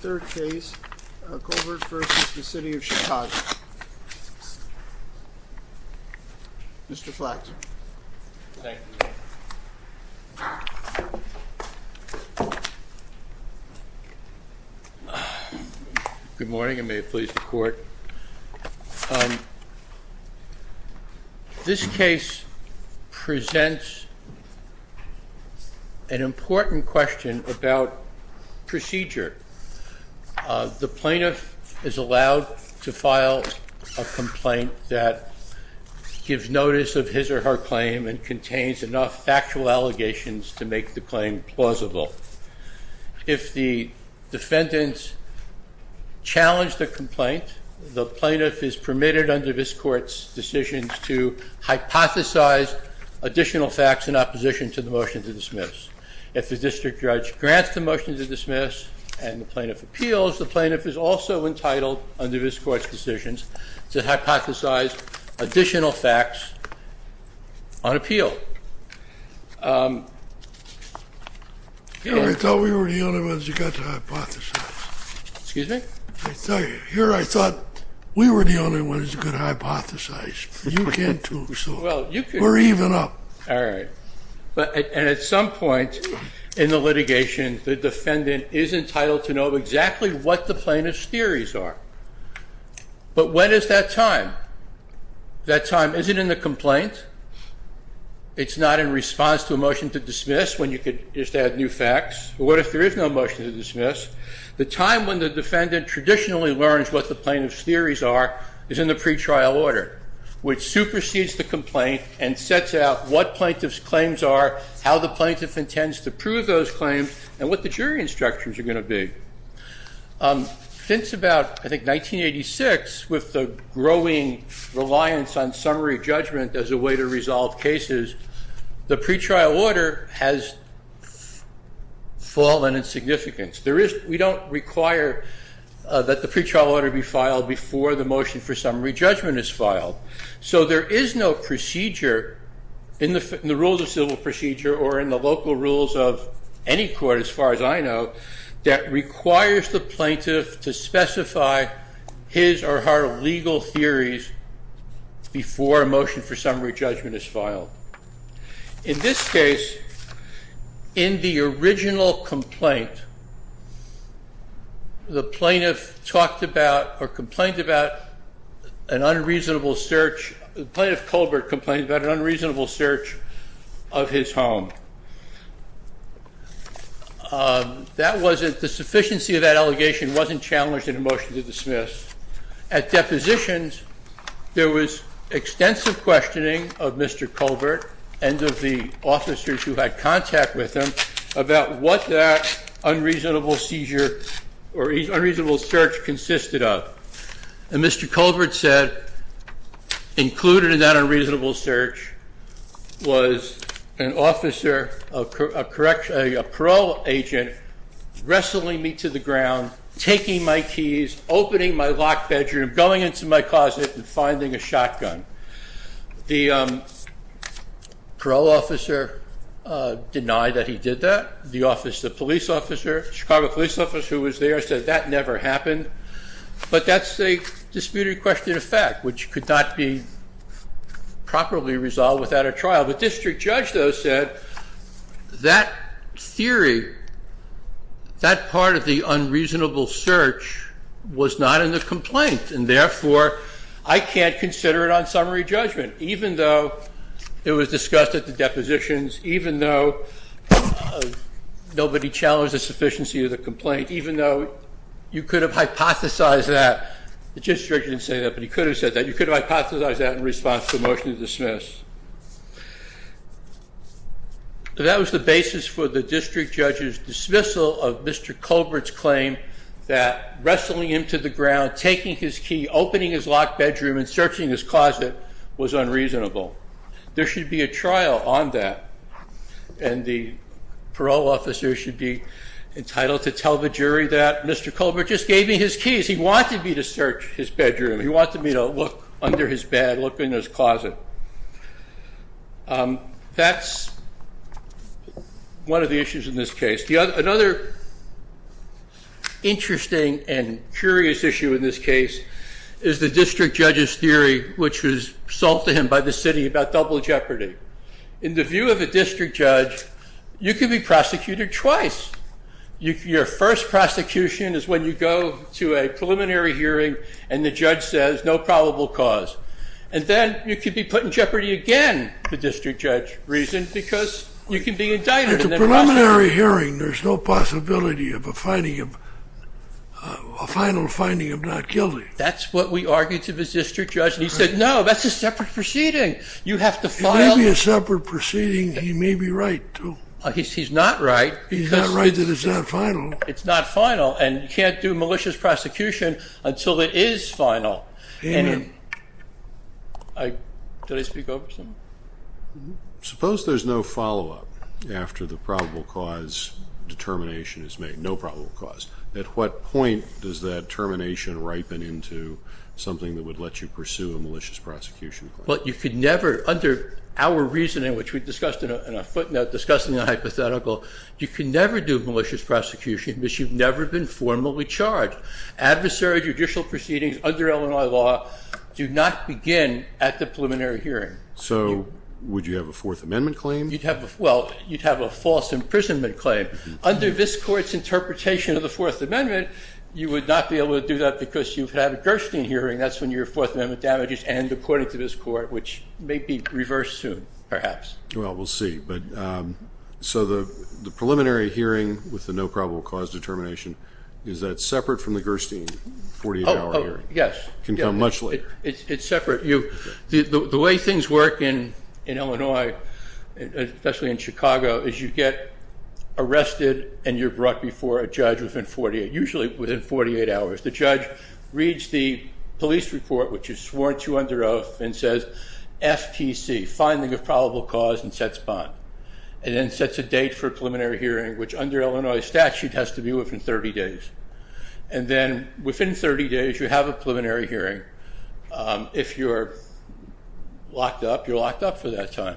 Third case, Colbert v. City of Chicago. Mr. Flaxman. Thank you. Good morning and may it please the court. This case presents an important question about procedure. The plaintiff is allowed to file a complaint that gives notice of his or her claim and contains enough factual allegations to make the claim plausible. If the defendant challenged the complaint, the plaintiff is permitted under this court's decisions to hypothesize additional facts in opposition to the motion to dismiss. If the district judge grants the motion to dismiss and the plaintiff appeals, the plaintiff is also entitled under this court's decisions to hypothesize additional facts on appeal. I thought we were the only ones who got to hypothesize. Excuse me? Here I thought we were the only ones who could hypothesize. You can too, so we're even up. All right. And at some point in the litigation, the defendant is entitled to know exactly what the plaintiff's theories are. But when is that time? That time isn't in the complaint. It's not in response to a motion to dismiss when you could just add new facts. What if there is no motion to dismiss? The time when the defendant traditionally learns what the plaintiff's theories are is in the pretrial order, which supersedes the complaint and sets out what plaintiff's claims are, how the plaintiff intends to prove those claims, and what the jury instructions are going to be. Since about, I think, 1986, with the growing reliance on summary judgment as a way to resolve cases, the pretrial order has fallen in significance. We don't require that the pretrial order be filed before the motion for summary judgment is filed. So there is no procedure in the rules of civil procedure or in the local rules of any court, as far as I know, that requires the plaintiff to specify his or her legal theories before a motion for summary judgment is filed. In this case, in the original complaint, the plaintiff talked about or complained about an unreasonable search. The plaintiff, Colbert, complained about an unreasonable search of his home. The sufficiency of that allegation wasn't challenged in a motion to dismiss. At depositions, there was extensive questioning of Mr. Colbert and of the officers who had contact with him about what that unreasonable search consisted of. And Mr. Colbert said, included in that unreasonable search was an officer, a parole agent, wrestling me to the ground, taking my keys, opening my locked bedroom, going into my closet and finding a shotgun. The parole officer denied that he did that. The police officer, Chicago police officer who was there, said that never happened. But that's a disputed question of fact, which could not be properly resolved without a trial. The district judge, though, said that theory, that part of the unreasonable search was not in the complaint. And therefore, I can't consider it on summary judgment, even though it was discussed at the depositions, even though nobody challenged the sufficiency of the complaint, even though you could have hypothesized that. The district judge didn't say that, but he could have said that. You could have hypothesized that in response to a motion to dismiss. That was the basis for the district judge's dismissal of Mr. Colbert's claim that wrestling him to the ground, taking his key, opening his locked bedroom and searching his closet was unreasonable. There should be a trial on that. And the parole officer should be entitled to tell the jury that Mr. Colbert just gave me his keys. He wanted me to search his bedroom. He wanted me to look under his bed, look in his closet. That's one of the issues in this case. Another interesting and curious issue in this case is the district judge's theory, which was sold to him by the city about double jeopardy. In the view of a district judge, you can be prosecuted twice. Your first prosecution is when you go to a preliminary hearing and the judge says no probable cause. And then you can be put in jeopardy again, the district judge reasoned, because you can be indicted. At the preliminary hearing, there's no possibility of a final finding of not guilty. That's what we argued to the district judge. He said, no, that's a separate proceeding. You have to file. It may be a separate proceeding. He may be right, too. He's not right. He's not right that it's not final. It's not final. And you can't do malicious prosecution until it is final. Amen. Did I speak over someone? Suppose there's no follow-up after the probable cause determination is made, no probable cause. At what point does that termination ripen into something that would let you pursue a malicious prosecution? Well, you could never, under our reasoning, which we discussed in a footnote discussing the hypothetical, you can never do malicious prosecution because you've never been formally charged. Adversary judicial proceedings under Illinois law do not begin at the preliminary hearing. So would you have a Fourth Amendment claim? Well, you'd have a false imprisonment claim. Under this court's interpretation of the Fourth Amendment, you would not be able to do that because you've had a Gerstein hearing. That's when your Fourth Amendment damages end, according to this court, which may be reversed soon perhaps. Well, we'll see. So the preliminary hearing with the no probable cause determination, is that separate from the Gerstein 48-hour hearing? Yes. It can come much later. It's separate. The way things work in Illinois, especially in Chicago, is you get arrested and you're brought before a judge within 48, usually within 48 hours. The judge reads the police report, which is sworn to under oath, and says, FTC, finding of probable cause, and sets bond. And then sets a date for a preliminary hearing, which under Illinois statute has to be within 30 days. And then within 30 days you have a preliminary hearing. If you're locked up, you're locked up for that time.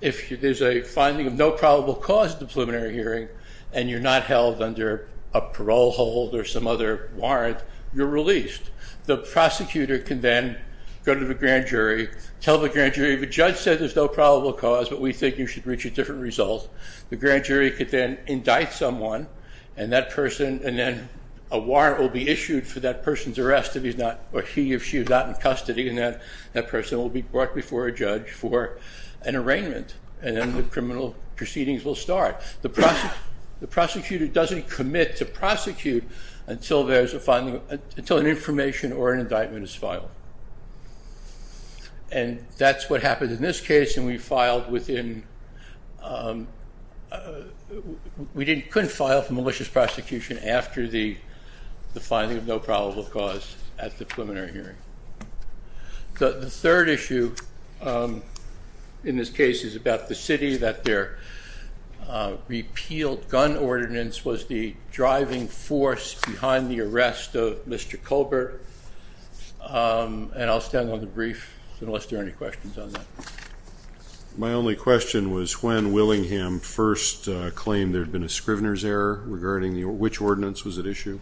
If there's a finding of no probable cause at the preliminary hearing and you're not held under a parole hold or some other warrant, you're released. The prosecutor can then go to the grand jury, tell the grand jury, the judge said there's no probable cause, but we think you should reach a different result. The grand jury can then indict someone, and then a warrant will be issued for that person's arrest if he or she is not in custody, and that person will be brought before a judge for an arraignment. And then the criminal proceedings will start. The prosecutor doesn't commit to prosecute until there's a finding, until an information or an indictment is filed. And that's what happened in this case, and we filed within, we couldn't file for malicious prosecution after the finding of no probable cause at the preliminary hearing. The third issue in this case is about the city, that their repealed gun ordinance was the driving force behind the arrest of Mr. Colbert, and I'll stand on the brief unless there are any questions on that. My only question was when Willingham first claimed there had been a Scrivener's error, regarding which ordinance was at issue?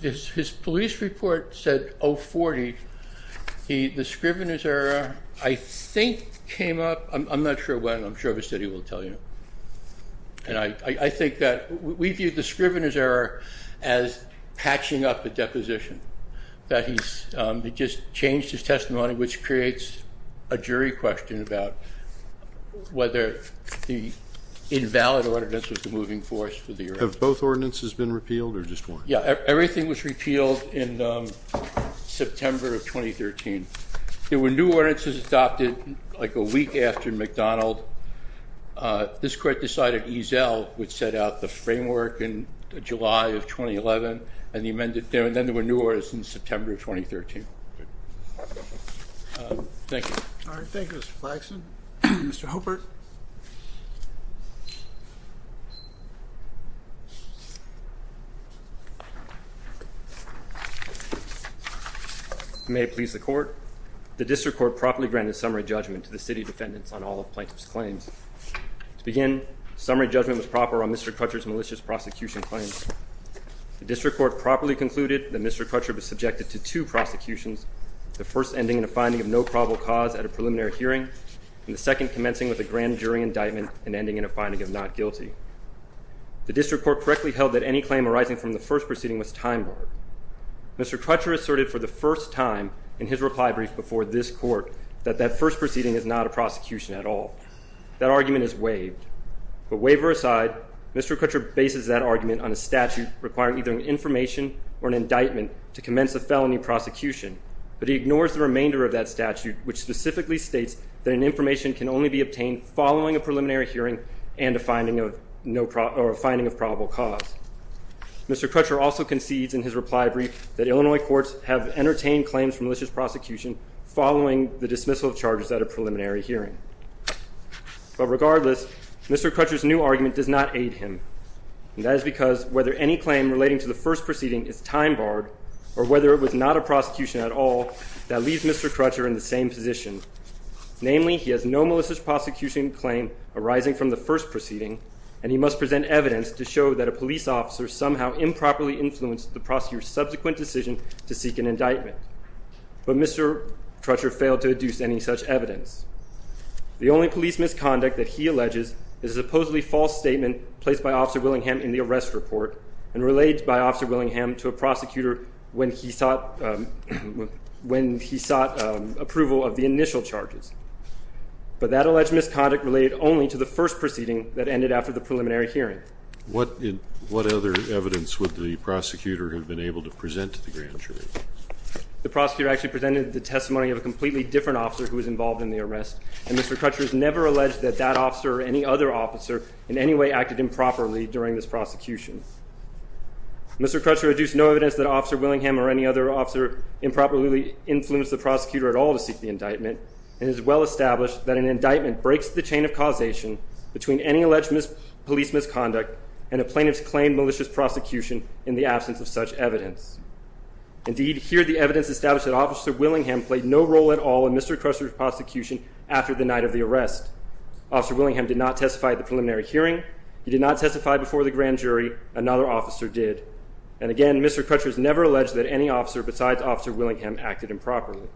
His police report said 040. The Scrivener's error, I think, came up, I'm not sure when, I'm sure the city will tell you. And I think that we view the Scrivener's error as patching up a deposition, that he just changed his testimony, which creates a jury question about whether the invalid ordinance was the moving force for the arrest. Have both ordinances been repealed, or just one? Yeah, everything was repealed in September of 2013. There were new ordinances adopted like a week after McDonald. This court decided Eazell would set out the framework in July of 2011, and then there were new ordinances in September of 2013. Thank you. All right, thank you, Mr. Flagson. Mr. Hobart. May it please the court. The district court properly granted summary judgment to the city defendants on all of plaintiff's claims. To begin, summary judgment was proper on Mr. Crutcher's malicious prosecution claims. The district court properly concluded that Mr. Crutcher was subjected to two prosecutions, the first ending in a finding of no probable cause at a preliminary hearing, and the second commencing with a grand jury indictment and ending in a finding of not guilty. The district court correctly held that any claim arising from the first proceeding was time-barred. Mr. Crutcher asserted for the first time in his reply brief before this court that that first proceeding is not a prosecution at all. That argument is waived. But waiver aside, Mr. Crutcher bases that argument on a statute requiring either an information or an indictment to commence a felony prosecution. But he ignores the remainder of that statute, which specifically states that an information can only be obtained following a preliminary hearing and a finding of probable cause. Mr. Crutcher also concedes in his reply brief that Illinois courts have entertained claims for malicious prosecution following the dismissal of charges at a preliminary hearing. But regardless, Mr. Crutcher's new argument does not aid him. And that is because whether any claim relating to the first proceeding is time-barred or whether it was not a prosecution at all, that leaves Mr. Crutcher in the same position. Namely, he has no malicious prosecution claim arising from the first proceeding, and he must present evidence to show that a police officer somehow improperly influenced the prosecutor's subsequent decision to seek an indictment. But Mr. Crutcher failed to deduce any such evidence. The only police misconduct that he alleges is a supposedly false statement placed by Officer Willingham in the arrest report and relayed by Officer Willingham to a prosecutor when he sought approval of the initial charges. But that alleged misconduct related only to the first proceeding that ended after the preliminary hearing. What other evidence would the prosecutor have been able to present to the grand jury? The prosecutor actually presented the testimony of a completely different officer who was involved in the arrest, and Mr. Crutcher has never alleged that that officer or any other officer in any way acted improperly during this prosecution. Mr. Crutcher deduced no evidence that Officer Willingham or any other officer improperly influenced the prosecutor at all to seek the indictment, and it is well established that an indictment breaks the chain of causation between any alleged police misconduct and a plaintiff's claimed malicious prosecution in the absence of such evidence. Indeed, here the evidence established that Officer Willingham played no role at all in Mr. Crutcher's prosecution after the night of the arrest. Officer Willingham did not testify at the preliminary hearing. He did not testify before the grand jury. Another officer did. And again, Mr. Crutcher has never alleged that any officer besides Officer Willingham acted improperly.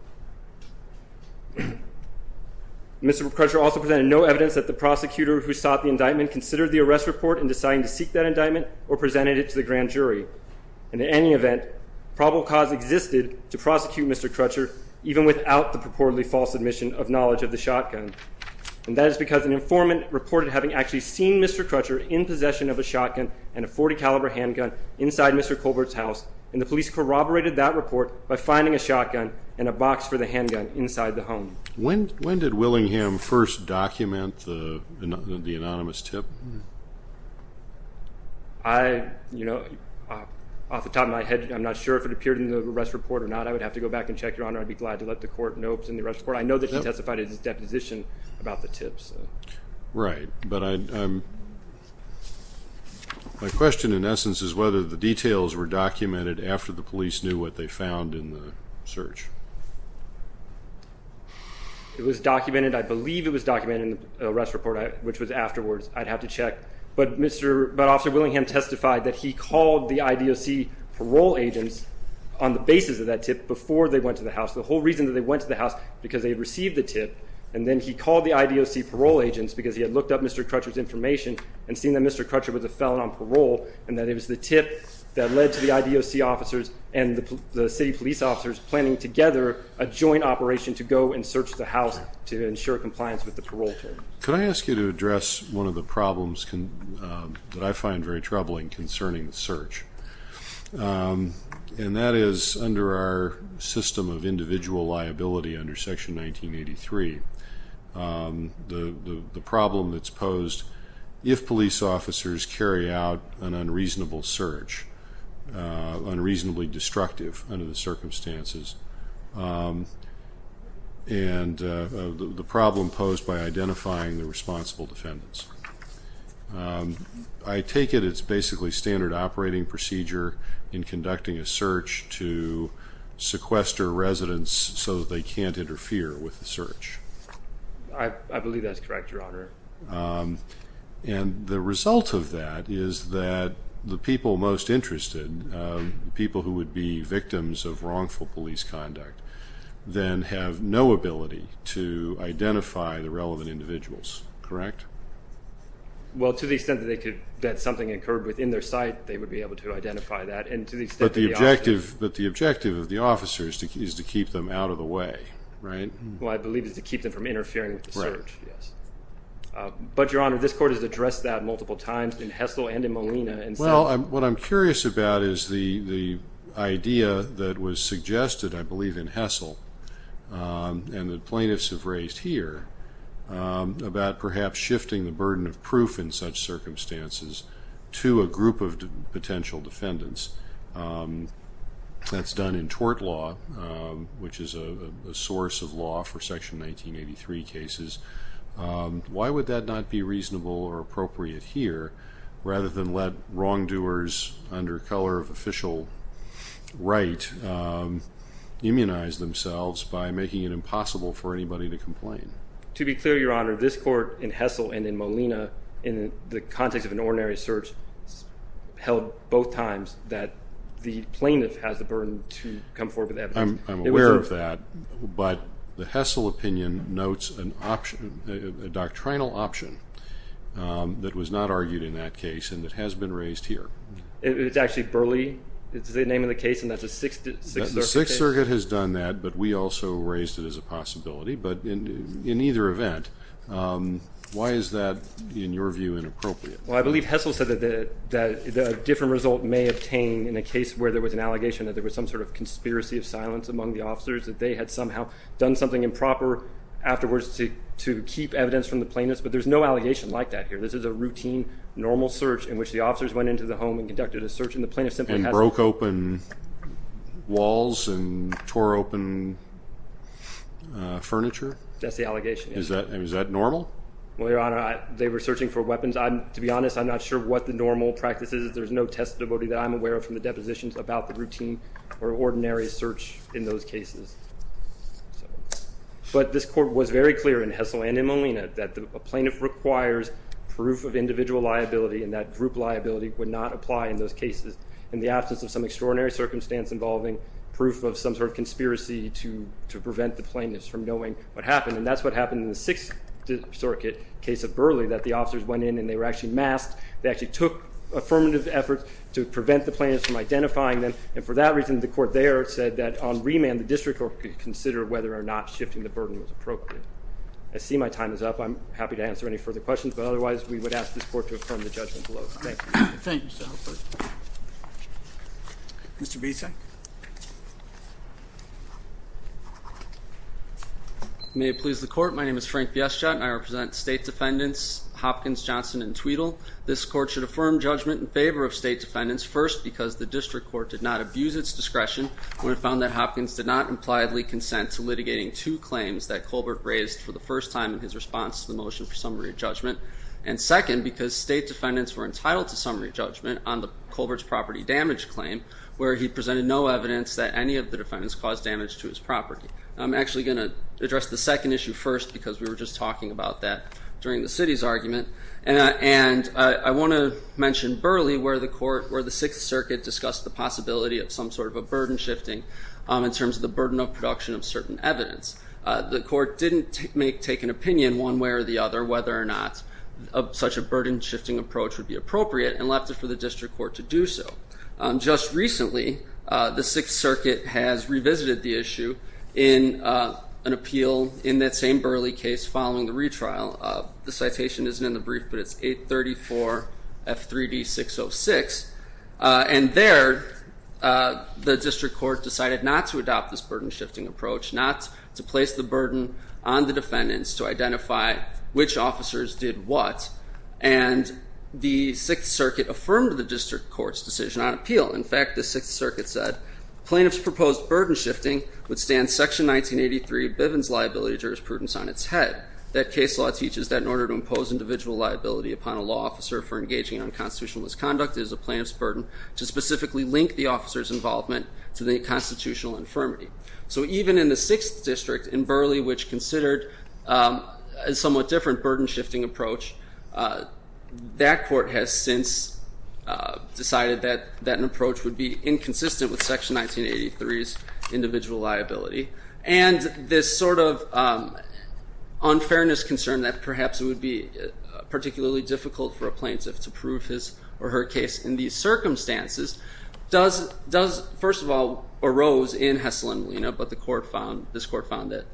Mr. Crutcher also presented no evidence that the prosecutor who sought the indictment considered the arrest report in deciding to seek that indictment or presented it to the grand jury. In any event, probable cause existed to prosecute Mr. Crutcher even without the purportedly false admission of knowledge of the shotgun, and that is because an informant reported having actually seen Mr. Crutcher in possession of a shotgun and a .40 caliber handgun inside Mr. Colbert's house, and the police corroborated that report by finding a shotgun and a box for the handgun inside the home. When did Willingham first document the anonymous tip? I, you know, off the top of my head, I'm not sure if it appeared in the arrest report or not. I would have to go back and check, Your Honor. I'd be glad to let the court know it was in the arrest report. I know that he testified at his deposition about the tips. Right. But my question, in essence, is whether the details were documented after the police knew what they found in the search. It was documented. I believe it was documented in the arrest report, which was afterwards. I'd have to check. But Officer Willingham testified that he called the IDOC parole agents on the basis of that tip before they went to the house, the whole reason that they went to the house, because they had received the tip, and then he called the IDOC parole agents because he had looked up Mr. Crutcher's information and seen that Mr. Crutcher was a felon on parole and that it was the tip that led to the IDOC officers and the city police officers planning together a joint operation to go and search the house to ensure compliance with the parole term. Could I ask you to address one of the problems that I find very troubling concerning the search, and that is under our system of individual liability under Section 1983, the problem that's posed if police officers carry out an unreasonable search, unreasonably destructive under the circumstances, and the problem posed by identifying the responsible defendants. I take it it's basically standard operating procedure in conducting a search to sequester residents so that they can't interfere with the search. I believe that's correct, Your Honor. And the result of that is that the people most interested, people who would be victims of wrongful police conduct, then have no ability to identify the relevant individuals, correct? Well, to the extent that something occurred within their sight, they would be able to identify that. But the objective of the officers is to keep them out of the way, right? Well, I believe it's to keep them from interfering with the search, yes. But, Your Honor, this court has addressed that multiple times in Hessel and in Molina. Well, what I'm curious about is the idea that was suggested, I believe, in Hessel, and that plaintiffs have raised here about perhaps shifting the burden of proof in such circumstances to a group of potential defendants. That's done in tort law, which is a source of law for Section 1983 cases. Why would that not be reasonable or appropriate here, rather than let wrongdoers under color of official right immunize themselves by making it impossible for anybody to complain? To be clear, Your Honor, this court in Hessel and in Molina, in the context of an ordinary search held both times, that the plaintiff has the burden to come forward with evidence. I'm aware of that, but the Hessel opinion notes a doctrinal option that was not argued in that case and that has been raised here. It's actually Burley. It's the name of the case, and that's a Sixth Circuit case. The Sixth Circuit has done that, but we also raised it as a possibility. But in either event, why is that, in your view, inappropriate? Well, I believe Hessel said that a different result may obtain in a case where there was an allegation that there was some sort of conspiracy of silence among the officers, that they had somehow done something improper afterwards to keep evidence from the plaintiffs. But there's no allegation like that here. This is a routine, normal search in which the officers went into the home and conducted a search, and the plaintiff simply has to— And broke open walls and tore open furniture? That's the allegation. Is that normal? Well, Your Honor, they were searching for weapons. To be honest, I'm not sure what the normal practice is. There's no testimony that I'm aware of from the depositions about the routine or ordinary search in those cases. But this court was very clear in Hessel and in Molina that a plaintiff requires proof of individual liability and that group liability would not apply in those cases in the absence of some extraordinary circumstance involving proof of some sort of conspiracy to prevent the plaintiffs from knowing what happened. And that's what happened in the Sixth Circuit case of Burley, that the officers went in and they were actually masked. They actually took affirmative efforts to prevent the plaintiffs from identifying them. And for that reason, the court there said that on remand, the district court could consider whether or not shifting the burden was appropriate. I see my time is up. I'm happy to answer any further questions, but otherwise we would ask this court to affirm the judgment below. Thank you. Thank you, Mr. Halpern. Mr. Bieseck? May it please the Court, my name is Frank Bieseck. I represent State Defendants Hopkins, Johnson, and Tweedle. This court should affirm judgment in favor of State Defendants, first because the district court did not abuse its discretion when it found that Hopkins did not impliedly consent to litigating two claims that Colbert raised for the first time in his response to the motion for summary judgment, and second because State Defendants were entitled to summary judgment on Colbert's property damage claim, where he presented no evidence that any of the defendants caused damage to his property. I'm actually going to address the second issue first because we were just talking about that during the city's argument. And I want to mention Burley where the court, where the Sixth Circuit discussed the possibility of some sort of a burden shifting in terms of the burden of production of certain evidence. The court didn't take an opinion one way or the other whether or not such a burden shifting approach would be appropriate and left it for the district court to do so. Just recently, the Sixth Circuit has revisited the issue in an appeal in that same Burley case following the retrial. The citation isn't in the brief, but it's 834 F3D 606. And there, the district court decided not to adopt this burden shifting approach, not to place the burden on the defendants to identify which officers did what. And the Sixth Circuit affirmed the district court's decision on appeal. In fact, the Sixth Circuit said, Plaintiff's proposed burden shifting would stand Section 1983 Bivens liability jurisprudence on its head. That case law teaches that in order to impose individual liability upon a law officer for engaging in unconstitutional misconduct, it is a plaintiff's burden to specifically link the officer's involvement to the constitutional infirmity. So even in the Sixth District in Burley, which considered a somewhat different burden shifting approach, that court has since decided that an approach would be inconsistent with Section 1983's individual liability. And this sort of unfairness concern that perhaps it would be particularly difficult for a plaintiff to prove his or her case in these circumstances does, first of all, arose in Hessel and Molina, but this court found that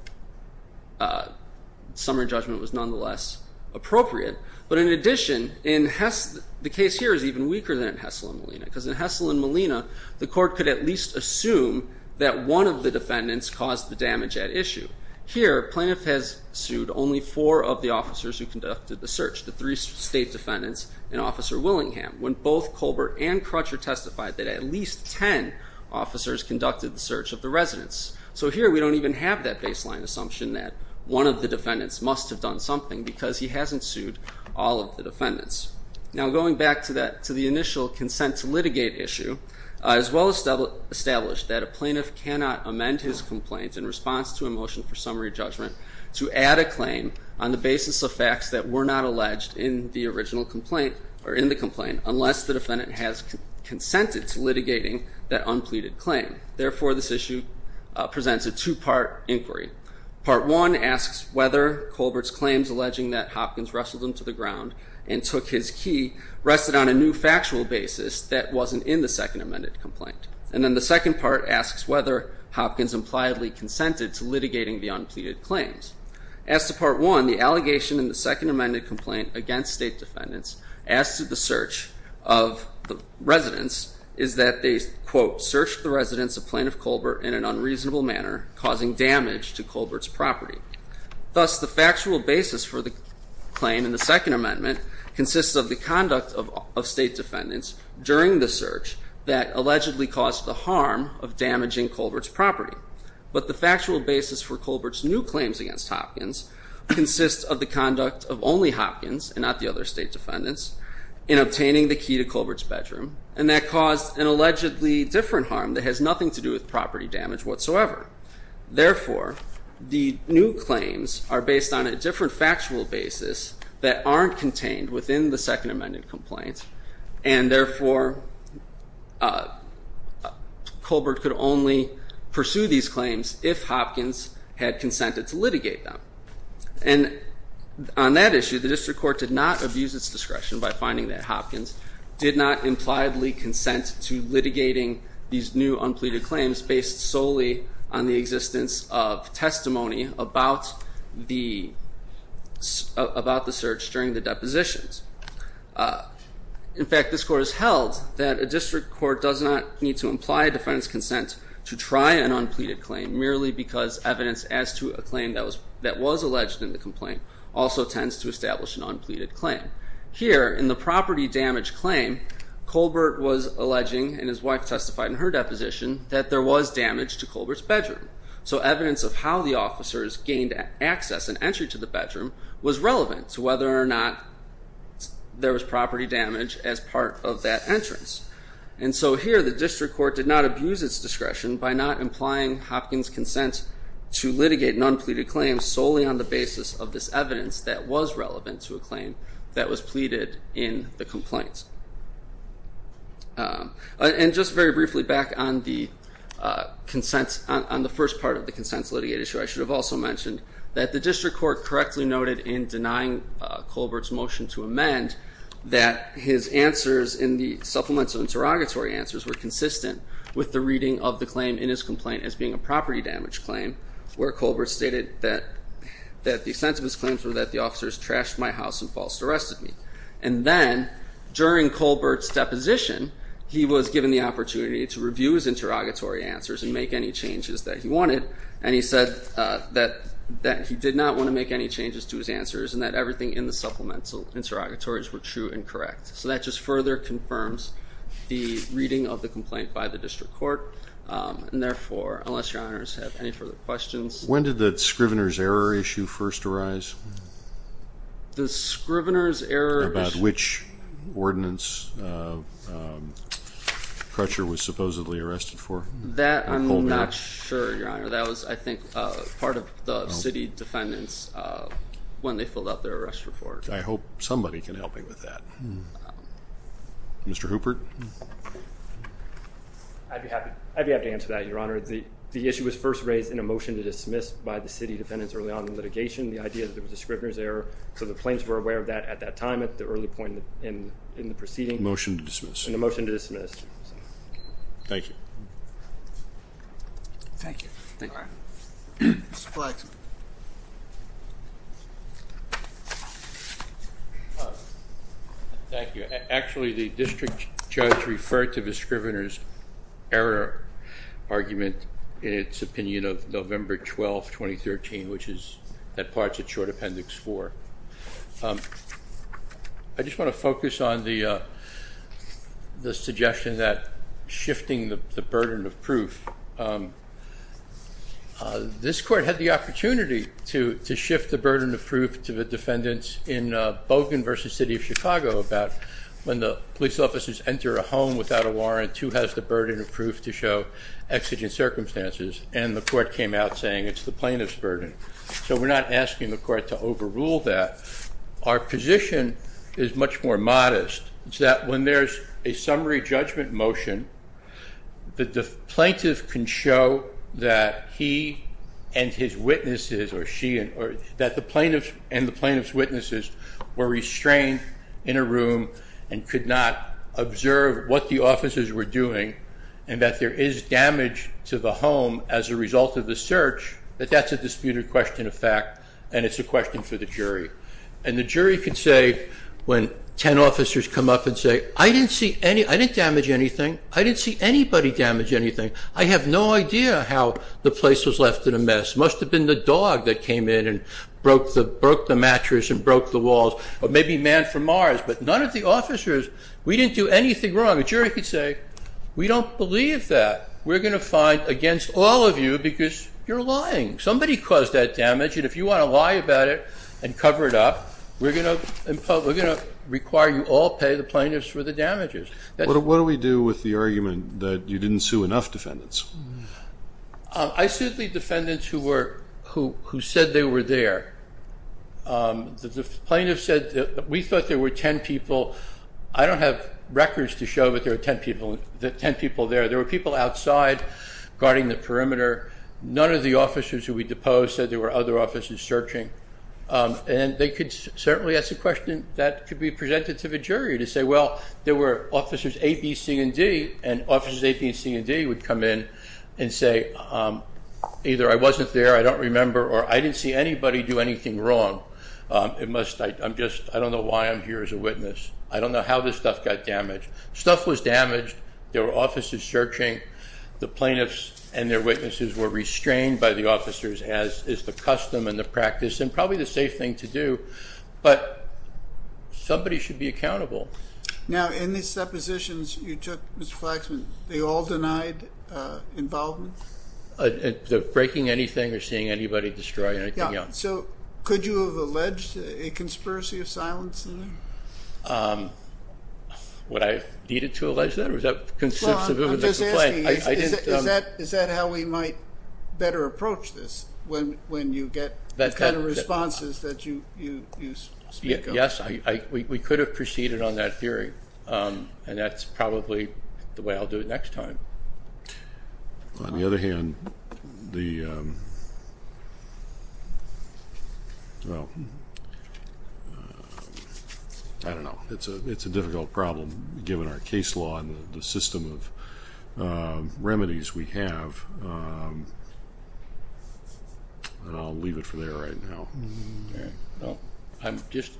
summary judgment was nonetheless appropriate. But in addition, the case here is even weaker than in Hessel and Molina, because in Hessel and Molina, the court could at least assume that one of the defendants caused the damage at issue. Here, plaintiff has sued only four of the officers who conducted the search, the three state defendants and Officer Willingham, when both Colbert and Crutcher testified that at least ten officers conducted the search of the residents. So here we don't even have that baseline assumption that one of the defendants must have done something because he hasn't sued all of the defendants. Now going back to the initial consent to litigate issue, as well as established that a plaintiff cannot amend his complaints in response to a motion for summary judgment to add a claim on the basis of facts that were not alleged in the original complaint or in the complaint unless the defendant has consented to litigating that unpleaded claim. Therefore, this issue presents a two-part inquiry. Part one asks whether Colbert's claims alleging that Hopkins wrestled him to the ground and took his key rested on a new factual basis that wasn't in the second amended complaint. And then the second part asks whether Hopkins impliedly consented to litigating the unpleaded claims. As to part one, the allegation in the second amended complaint against state defendants as to the search of the residents is that they, quote, searched the residents of Plaintiff Colbert in an unreasonable manner, causing damage to Colbert's property. Thus, the factual basis for the claim in the second amendment consists of the conduct of state defendants during the search that allegedly caused the harm of damaging Colbert's property. But the factual basis for Colbert's new claims against Hopkins consists of the conduct of only Hopkins, and not the other state defendants, in obtaining the key to Colbert's bedroom, and that caused an allegedly different harm that has nothing to do with property damage whatsoever. Therefore, the new claims are based on a different factual basis that aren't contained within the second amended complaint, and therefore, Colbert could only pursue these claims if Hopkins had consented to litigate them. And on that issue, the district court did not abuse its discretion by finding that Hopkins did not impliedly consent to litigating these new unpleaded claims based solely on the existence of testimony about the search during the depositions. In fact, this court has held that a district court does not need to imply defendants' consent to try an unpleaded claim merely because evidence as to a claim that was alleged in the complaint also tends to establish an unpleaded claim. Here, in the property damage claim, Colbert was alleging, and his wife testified in her deposition, that there was damage to Colbert's bedroom. So evidence of how the officers gained access and entry to the bedroom was relevant to whether or not there was property damage as part of that entrance. And so here, the district court did not abuse its discretion by not implying Hopkins' consent to litigate an unpleaded claim solely on the basis of this evidence that was relevant to a claim that was pleaded in the complaint. And just very briefly, back on the first part of the consents litigated issue, I should have also mentioned that the district court correctly noted in denying Colbert's motion to amend that his answers in the supplemental interrogatory answers were consistent with the reading of the claim in his complaint as being a property damage claim, where Colbert stated that the extent of his claims were that the officers trashed my house and falsely arrested me. And then, during Colbert's deposition, he was given the opportunity to review his interrogatory answers and make any changes that he wanted, and he said that he did not want to make any changes to his answers and that everything in the supplemental interrogatories were true and correct. So that just further confirms the reading of the complaint by the district court. And therefore, unless your honors have any further questions. When did the Scrivener's error issue first arise? The Scrivener's error issue. About which ordinance Crutcher was supposedly arrested for? That I'm not sure, Your Honor. That was, I think, part of the city defendants when they filled out their arrest report. I hope somebody can help me with that. Mr. Hooper? I'd be happy to answer that, Your Honor. The issue was first raised in a motion to dismiss by the city defendants early on in litigation, the idea that it was a Scrivener's error. So the plaintiffs were aware of that at that time, at the early point in the proceeding. Motion to dismiss. And a motion to dismiss. Thank you. Thank you. All right. Mr. Blackman? Thank you. Actually, the district judge referred to the Scrivener's error argument in its opinion of November 12, 2013, which is that part's a short appendix four. I just want to focus on the suggestion that shifting the burden of proof. This court had the opportunity to shift the burden of proof to the defendants in Bogan v. City of Chicago about when the police officers enter a home without a warrant, who has the burden of proof to show exigent circumstances. And the court came out saying it's the plaintiff's burden. So we're not asking the court to overrule that. Our position is much more modest. It's that when there's a summary judgment motion, the plaintiff can show that he and his witnesses, or she, that the plaintiff and the plaintiff's witnesses were restrained in a room and could not observe what the officers were doing, and that there is damage to the home as a result of the search, that that's a disputed question of fact, and it's a question for the jury. And the jury can say, when ten officers come up and say, I didn't see any, I didn't damage anything, I didn't see anybody damage anything, I have no idea how the place was left in a mess. It must have been the dog that came in and broke the mattress and broke the walls, or maybe man from Mars, but none of the officers, we didn't do anything wrong. The jury could say, we don't believe that. Somebody caused that damage, and if you want to lie about it and cover it up, we're going to require you all pay the plaintiffs for the damages. What do we do with the argument that you didn't sue enough defendants? I sued the defendants who said they were there. The plaintiff said, we thought there were ten people. I don't have records to show that there were ten people there. There were people outside guarding the perimeter. None of the officers who we deposed said there were other officers searching. And they could certainly ask a question that could be presented to the jury, to say, well, there were officers A, B, C, and D, and officers A, B, C, and D would come in and say, either I wasn't there, I don't remember, or I didn't see anybody do anything wrong. I don't know why I'm here as a witness. I don't know how this stuff got damaged. Stuff was damaged. There were officers searching. The plaintiffs and their witnesses were restrained by the officers, as is the custom and the practice, and probably the safe thing to do. But somebody should be accountable. Now, in the suppositions you took, Mr. Flaxman, they all denied involvement? Breaking anything or seeing anybody destroy anything else. Yeah. So could you have alleged a conspiracy of silence in there? Would I have needed to allege that? I'm just asking, is that how we might better approach this, when you get the kind of responses that you speak of? Yes. We could have proceeded on that theory, and that's probably the way I'll do it next time. On the other hand, the, well, I don't know. It's a difficult problem, given our case law and the system of remedies we have. I'll leave it for there right now. I'm just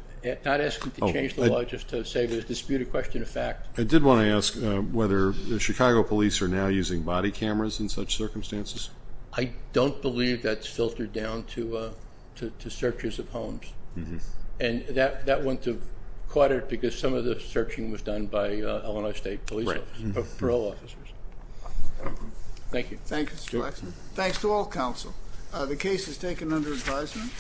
not asking to change the law, just to dispute a question of fact. I did want to ask whether the Chicago police are now using body cameras in such circumstances. I don't believe that's filtered down to searches of homes. And that wouldn't have caught it, because some of the searching was done by Illinois State police officers, parole officers. Thank you. Thank you, Mr. Flaxman. Thanks to all counsel. The case is taken under advisement.